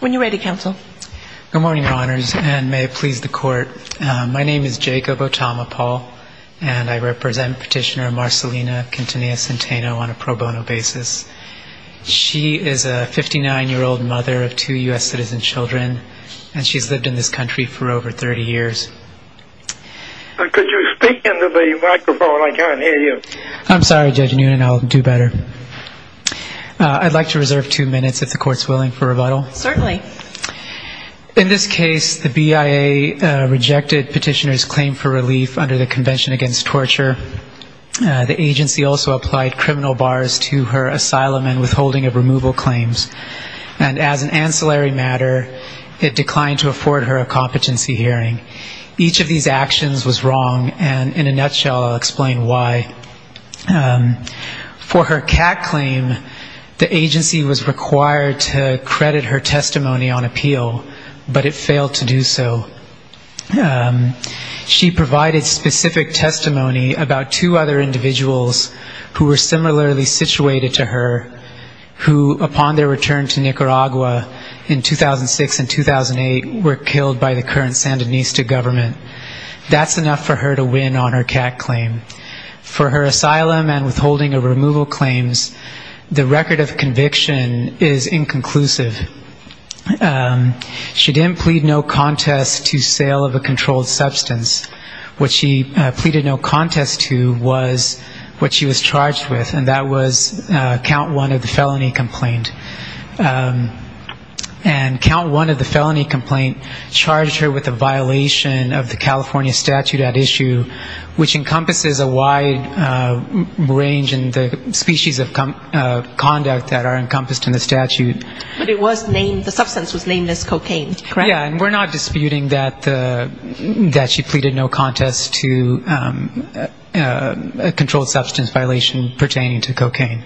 When you're ready, Counsel. Good morning, Your Honors, and may it please the Court. My name is Jacob Otama Paul, and I represent Petitioner Marcelina Quintanilla Centeno on a pro bono basis. She is a 59-year-old mother of two U.S. citizen children, and she's lived in this country for over 30 years. Could you speak into the microphone? I can't hear you. I'm sorry, Judge Noonan, I'll do better. I'd like to reserve two minutes, if the Court's willing, for rebuttal. Certainly. In this case, the BIA rejected Petitioner's claim for relief under the Convention Against Torture. The agency also applied criminal bars to her asylum and withholding of removal claims, and as an ancillary matter, it declined to afford her a competency hearing. Each of these actions was wrong, and in a nutshell, I'll explain why. For her cat claim, the agency was required to credit her testimony on appeal, but it failed to do so. She provided specific testimony about two other individuals who were similarly situated to her, who upon their return to Nicaragua in 2006 and 2008 were killed by the current Sandinista government. That's enough for her to win on her cat claim. For her asylum and withholding of removal claims, the record of conviction is inconclusive. She didn't plead no contest to sale of a controlled substance. What she pleaded no contest to was what she was charged with, and that was count one of the felony complaint. And count one of the felony complaint charged her with a violation of the California statute at issue, which encompasses a wide range in the species of conduct that are encompassed in the statute. But it was named, the substance was named as cocaine, correct? Yeah, and we're not disputing that she pleaded no contest to a controlled substance violation pertaining to cocaine.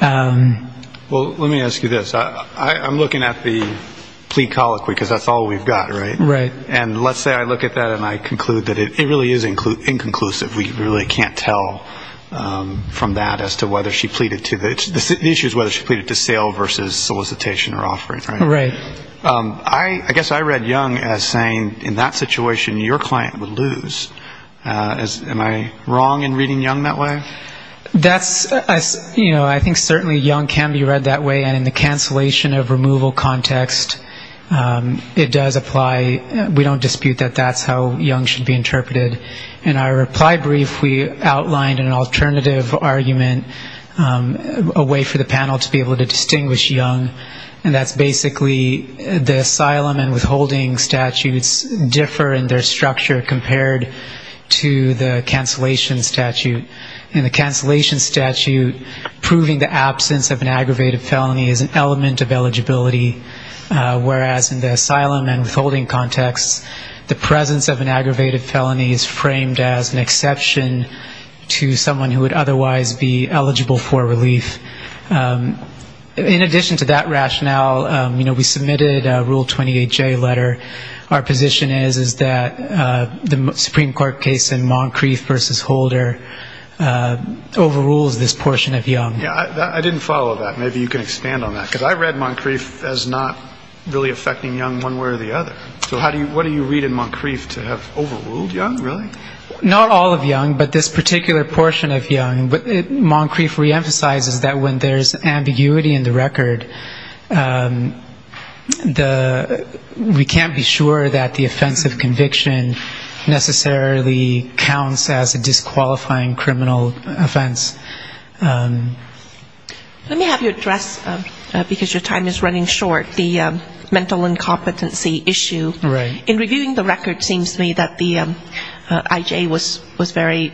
Well, let me ask you this. I'm looking at the plea colloquy, because that's all we've got, right? Right. And let's say I look at that and I conclude that it really is inconclusive. We really can't tell from that as to whether she pleaded to the issues, whether she pleaded to sale versus solicitation or offering, right? Right. I guess I read Young as saying in that situation, your client would lose. Am I wrong in reading Young that way? That's, you know, I think certainly Young can be read that way, and in the cancellation of removal context, it does apply. We don't dispute that that's how Young should be interpreted. In our reply brief, we outlined an alternative argument, a way for the panel to be able to distinguish Young, and that's basically the asylum and withholding statutes differ in their structure compared to the cancellation statute. In the cancellation statute, proving the absence of an aggravated felony is an element of eligibility, whereas in the asylum and withholding context, the presence of an aggravated felony is framed as an exception to someone who would otherwise be eligible for relief. In addition to that rationale, you know, we submitted a Rule 28J letter. Our position is that the Supreme Court case in Moncrief versus Holder overrules this portion of Young. I didn't follow that. Maybe you can expand on that, because I read Moncrief as not really affecting Young one way or the other. So what do you read in Moncrief to have overruled Young, really? Not all of Young, but this particular portion of Young. Moncrief reemphasizes that when there's ambiguity in the record, we can't be sure that the offense of conviction necessarily counts as a disqualifying criminal offense. Let me have you address, because your time is running short, the mental incompetency issue. In reviewing the record, it seems to me that the I.J. was very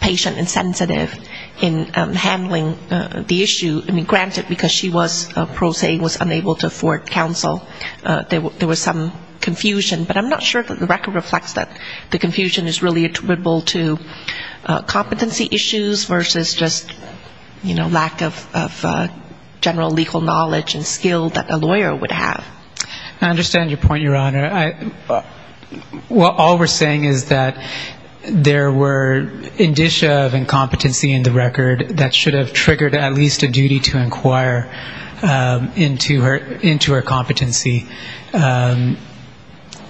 patient and sensitive in handling the issue. I mean, granted, because she was a pro se, was unable to afford counsel, there was some confusion, but I'm not sure that the record reflects that the confusion is really attributable to competency issues versus just, you know, lack of general legal knowledge and skill that a lawyer would have. I understand your point, Your Honor. All we're saying is that there were indicia of incompetency in the record that should have triggered at least a duty to inquire into her competency.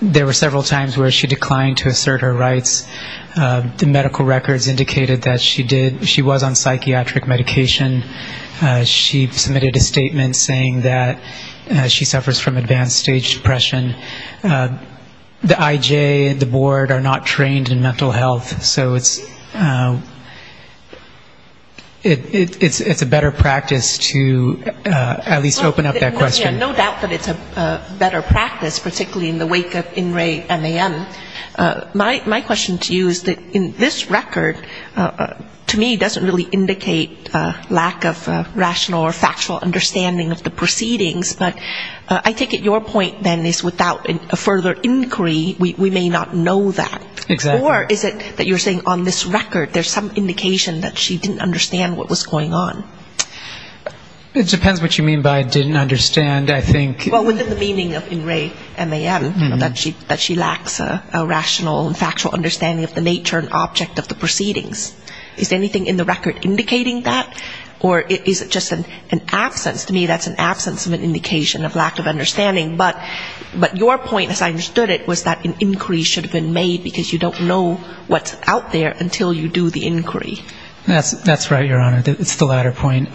There were several times where she declined to assert her rights. The medical records indicated that she was on psychiatric medication. She submitted a statement saying that she suffers from advanced stage depression. The I.J. and the board are not trained in mental health, so it's a better practice to at least open up that question. No doubt that it's a better practice, particularly in the wake of In Re MAM. My question to you is that in this record, to me, doesn't really indicate lack of rational or factual understanding of the proceedings, but I think at your point, then, is without a further inquiry, we may not know that. Exactly. Or is it that you're saying on this record there's some indication that she didn't understand what was going on? It depends what you mean by didn't understand. I think ‑‑ Well, within the meaning of In Re MAM, that she lacks a rational and factual understanding of the nature and object of the proceedings. Is anything in the record indicating that? Or is it just an absence? To me, that's an absence of an indication of lack of understanding. But your point, as I understood it, was that an inquiry should have been made because you don't know what's out there until you do the inquiry. That's right, Your Honor. That's the latter point.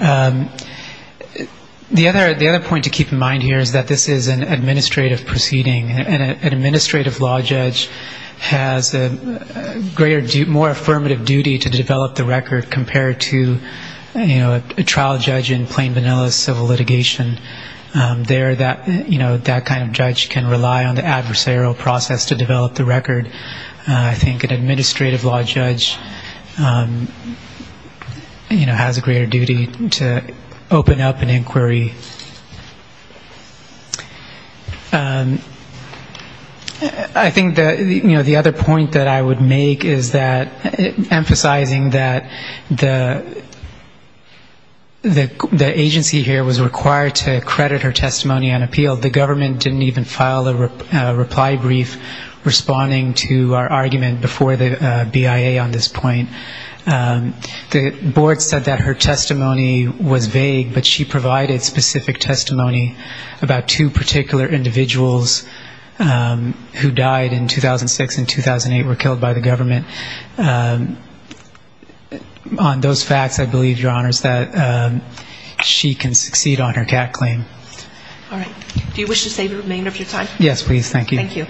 The other point to keep in mind here is that this is an administrative proceeding, and an administrative law judge has a greater ‑‑ more affirmative duty to develop the record compared to a trial judge in plain vanilla civil litigation. There, that kind of judge can rely on the adversarial process to develop the record. I think an administrative law judge, you know, has a greater duty to open up an inquiry. I think that, you know, the other point that I would make is that emphasizing that the agency here was required to credit her testimony on appeal, the government didn't even file a reply brief responding to our argument before the BIA on this point. The board said that her testimony was vague, but she provided specific testimony about two particular individuals who died in 2006 and 2008 were killed by the government. On those facts, I believe, Your Honor, is that she can succeed on her CAT claim. All right. Do you wish to save the remainder of your time? Yes, please. Thank you. Thank you.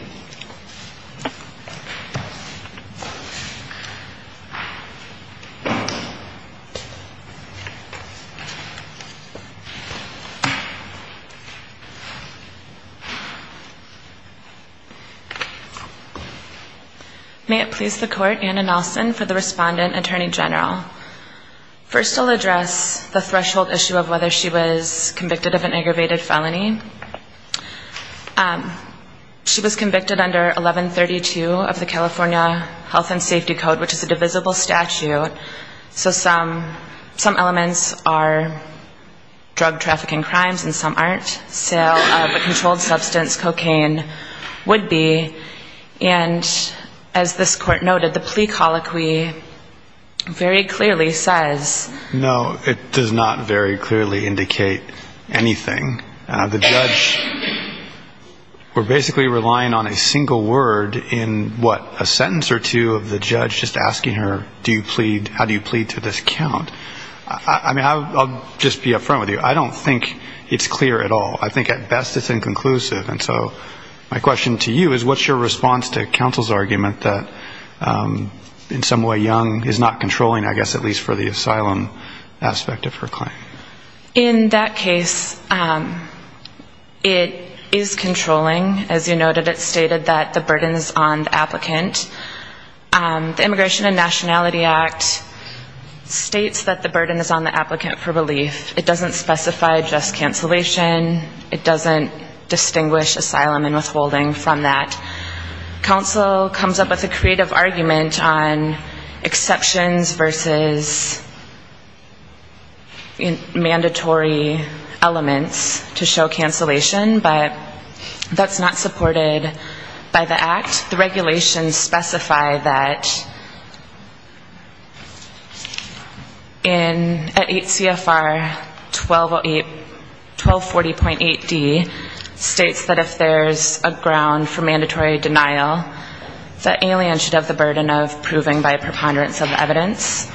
May it please the Court, Anna Nelson for the respondent, Attorney General. First I'll address the threshold issue of whether she was convicted of an aggravated felony. She was convicted under 1132 of the California Health and Safety Code, which is a divisible statute. So some elements are drug trafficking crimes and some aren't. Sale of a controlled substance, cocaine, would be. And as this Court noted, the plea colloquy very clearly says... No, it does not very clearly indicate anything. The judge, we're basically relying on a single word in, what, a sentence or two of the judge just asking her, do you plead, how do you plead to this count? I mean, I'll just be up front with you. I don't think it's clear at all. I think at best it's inconclusive. And so my question to you is what's your response to counsel's argument that in some way Young is not controlling, I guess, at least for the asylum aspect of her claim? In that case, it is controlling. As you noted, it stated that the burden is on the applicant. The Immigration and Nationality Act states that the burden is on the applicant for relief. It doesn't specify just cancellation. It doesn't distinguish asylum and withholding from that. Counsel comes up with a creative argument on exceptions versus mandatory elements to show cancellation, but that's not supported by the Act. The regulations specify that in 8 CFR 1240.8D states that if there's a ground for mandatory or non-mandatory cancellation, mandatory denial, the alien should have the burden of proving by a preponderance of evidence.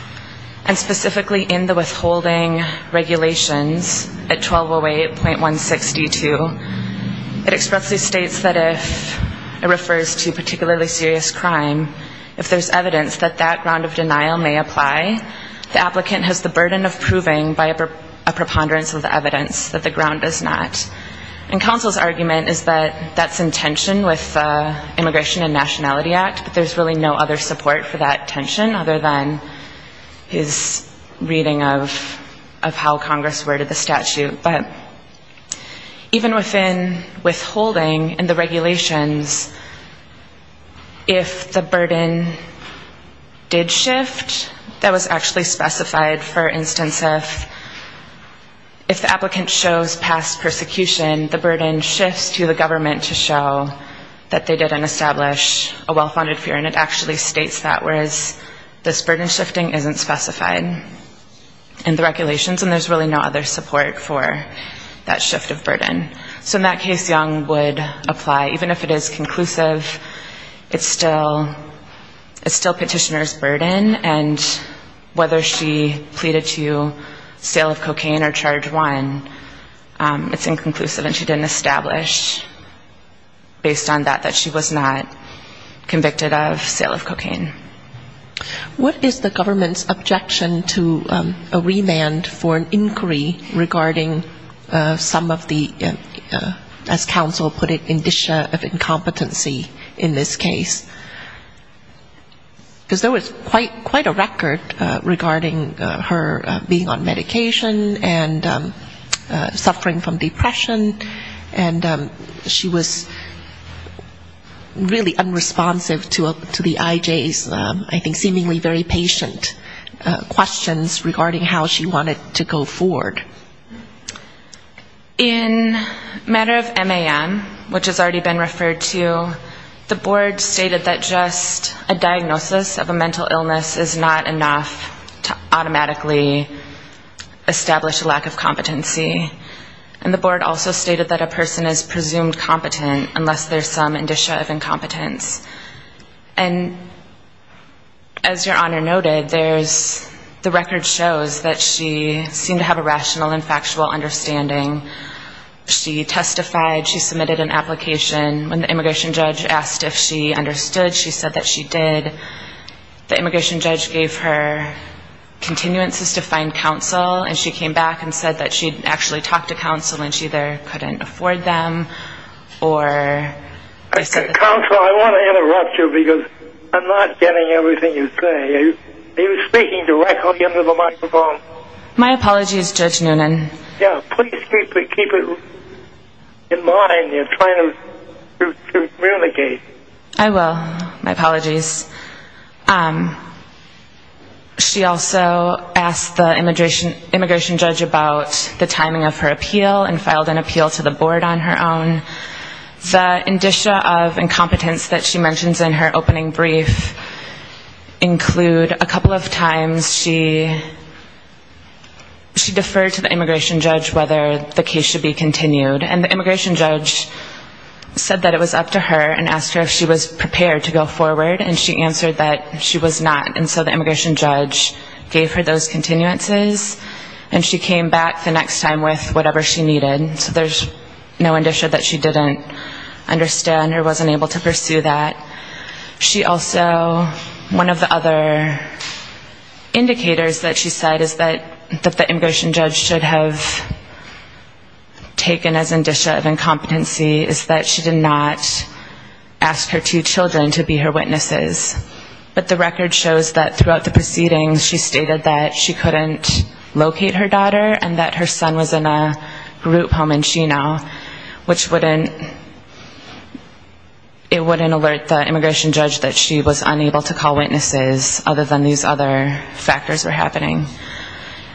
And specifically in the withholding regulations at 1208.162, it expressly states that if it refers to particularly serious crime, if there's evidence that that ground of denial may apply, the applicant has the burden of proving by a preponderance of evidence that the ground does not. And counsel's argument is that that's in tension with the Immigration and Nationality Act, but there's really no other support for that tension other than his reading of how Congress worded the statute. But even within withholding and the regulations, if the burden did shift, that was actually specified, for instance, if the applicant shows past persecution, the burden shifts to the government to show that they did not establish a well-founded fear, and it actually states that, whereas this burden shifting isn't specified in the regulations, and there's really no other support for that shift of burden. So in that case, Young would apply, even if it is conclusive, it's still petitioner's claim, and whether she pleaded to sale of cocaine or charge one, it's inconclusive, and she didn't establish, based on that, that she was not convicted of sale of cocaine. What is the government's objection to a remand for an inquiry regarding some of the, as counsel put it, indicia of incompetency in this case? Because there was quite a record regarding her being on medication and suffering from depression, and she was really unresponsive to the IJ's, I think, seemingly very patient questions regarding how she wanted to go forward. In matter of MAM, which has already been referred to, the board stated that just a diagnosis of a mental illness is not enough to automatically establish a lack of competency, and the board also stated that a person is presumed competent unless there's some indicia of incompetence. And as Your Honor noted, there's, the record shows that she seemed to have a rational and factual understanding. She testified, she submitted an application. When the immigration judge asked if she understood, she said that she did. The immigration judge gave her continuances to find counsel, and she came back and said that she had actually talked to counsel and she either couldn't afford them or... Counsel, I want to interrupt you because I'm not getting everything you say. Are you speaking directly into the microphone? My apologies, Judge Noonan. Yeah, please keep it in mind. You're trying to communicate. I will. My apologies. She also asked the immigration judge about the timing of her appeal, in fact she filed an appeal to the board on her own. The indicia of incompetence that she mentions in her opening brief include a couple of times she deferred to the immigration judge whether the case should be continued, and the immigration judge said that it was up to her and asked her if she was prepared to go forward, and she answered that she was not, and so the immigration judge gave her those continuances, and she came back the next time with whatever she needed, so there's no indicia that she didn't understand or wasn't able to pursue that. She also, one of the other indicators that she said is that the immigration judge should have taken as indicia of incompetency is that she did not ask her two children to be her witnesses, but the record shows that throughout the proceedings she stated that she couldn't locate her daughter and that her son was in a group home in Chino, which wouldn't, it wouldn't alert the immigration judge that she was unable to call witnesses other than these other factors were happening.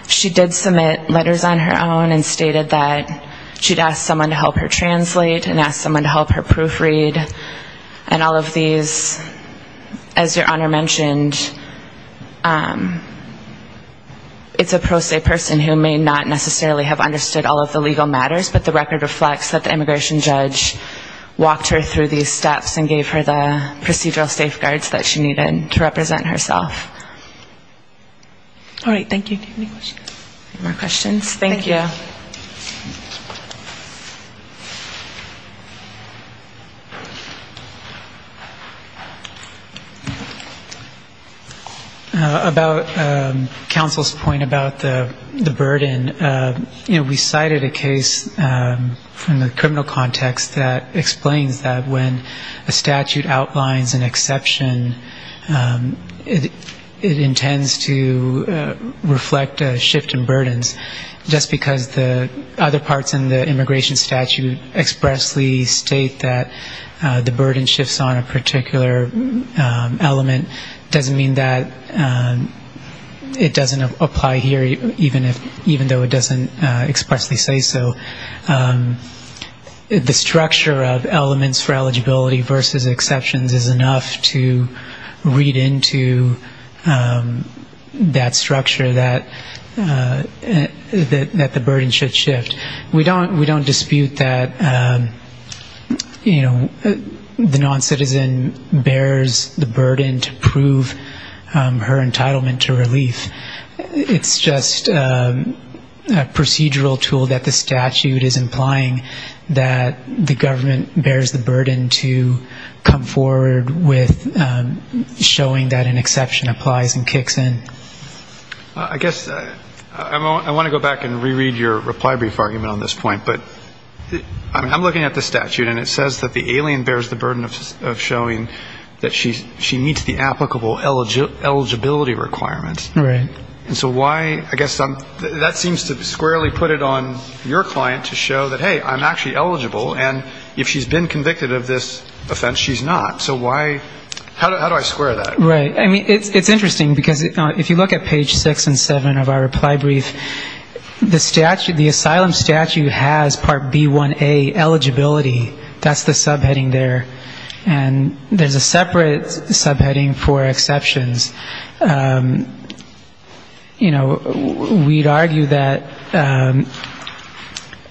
She did submit letters on her own and stated that she'd asked someone to help her translate and asked someone to help her proofread and all of these, as your Honor mentioned, it's a pro se person who may not necessarily have understood all of the legal matters, but the record reflects that the immigration judge walked her through these steps and gave her the procedural safeguards that she needed to represent herself. All right, thank you. Any more questions? Thank you. About counsel's point about the burden, you know, we cited a case from the criminal context that explains that when a statute outlines an exception, it intends to reflect a shift in burdens, just because the other parts in the immigration statute expressly state that the burden shifts on a particular element doesn't mean that it doesn't apply here, even though it doesn't expressly say so. The structure of elements for eligibility versus exceptions is enough to read into that structure that the burden should shift. We don't dispute that, you know, the non-citizen bears the burden to prove her entitlement to relief. It's just a procedural tool that the statute is implying that the government bears the burden to come forward with showing that an exception applies and kicks in. I guess I want to go back and re-read your reply brief argument on this point, but I'm looking at the statute and it says that the alien bears the burden of showing that she meets the applicable eligibility requirements, and so why, I guess, that seems to squarely put it on your client to show that, hey, I'm actually eligible, and if she's been convicted of this offense, she's not. So why, how do I square that? Right. I mean, it's interesting, because if you look at page six and seven of our reply brief, the statute, the asylum statute has part B1A, eligibility. That's the subheading there. And there's a separate subheading for exceptions. You know, we'd argue that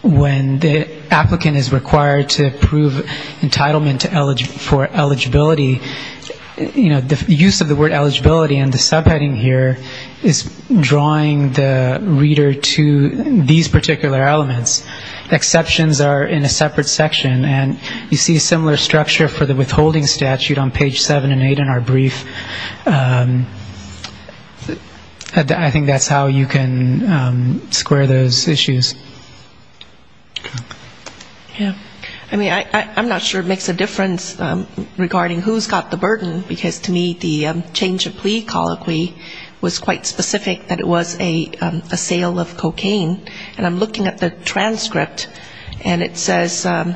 when the applicant is required to prove entitlement for eligibility, you know, the use of the word eligibility in the subheading here is drawing the reader to these particular elements. Exceptions are in a separate section, and you see a similar structure for the withholding statute on page seven and eight in our brief. I think that's how you can square those issues. Yeah. I mean, I'm not sure it makes a difference regarding who's got the burden, because to me the change of plea colloquy was quite specific that it was a sale of cocaine. And I'm looking at the transcript, and it says that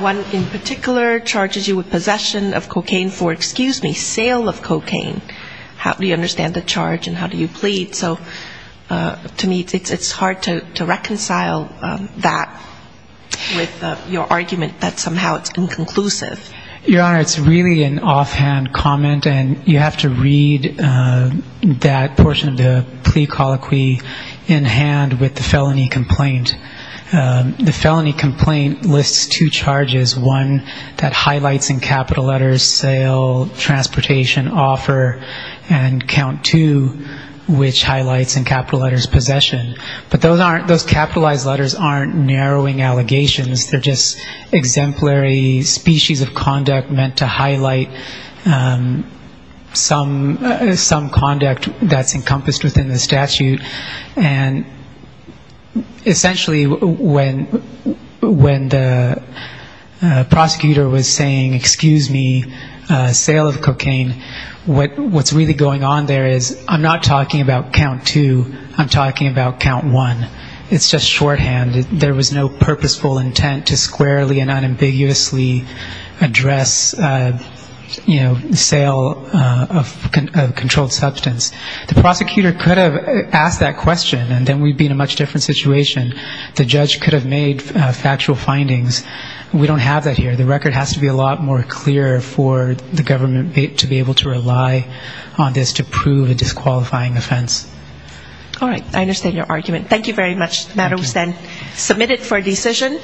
one in particular charges you with possession of cocaine for, excuse me, sale of cocaine. How do you understand the charge, and how do you reconcile that with your argument that somehow it's inconclusive? Your Honor, it's really an offhand comment, and you have to read that portion of the plea colloquy in hand with the felony complaint. The felony complaint lists two charges, one that highlights in capital letters, sale, transportation, offer, and count two, which are not narrowing allegations. They're just exemplary species of conduct meant to highlight some conduct that's encompassed within the statute. And essentially when the prosecutor was saying, excuse me, sale of cocaine, what's really going on there is I'm not talking about count one. It's just shorthand. There was no purposeful intent to squarely and unambiguously address, you know, sale of controlled substance. The prosecutor could have asked that question, and then we'd be in a much different situation. The judge could have made factual findings. We don't have that here. The record has to be a lot more clear for the government to be able to rely on this to prove a disqualifying offense. All right. I understand your argument. Thank you very much. The matter was then submitted for decision.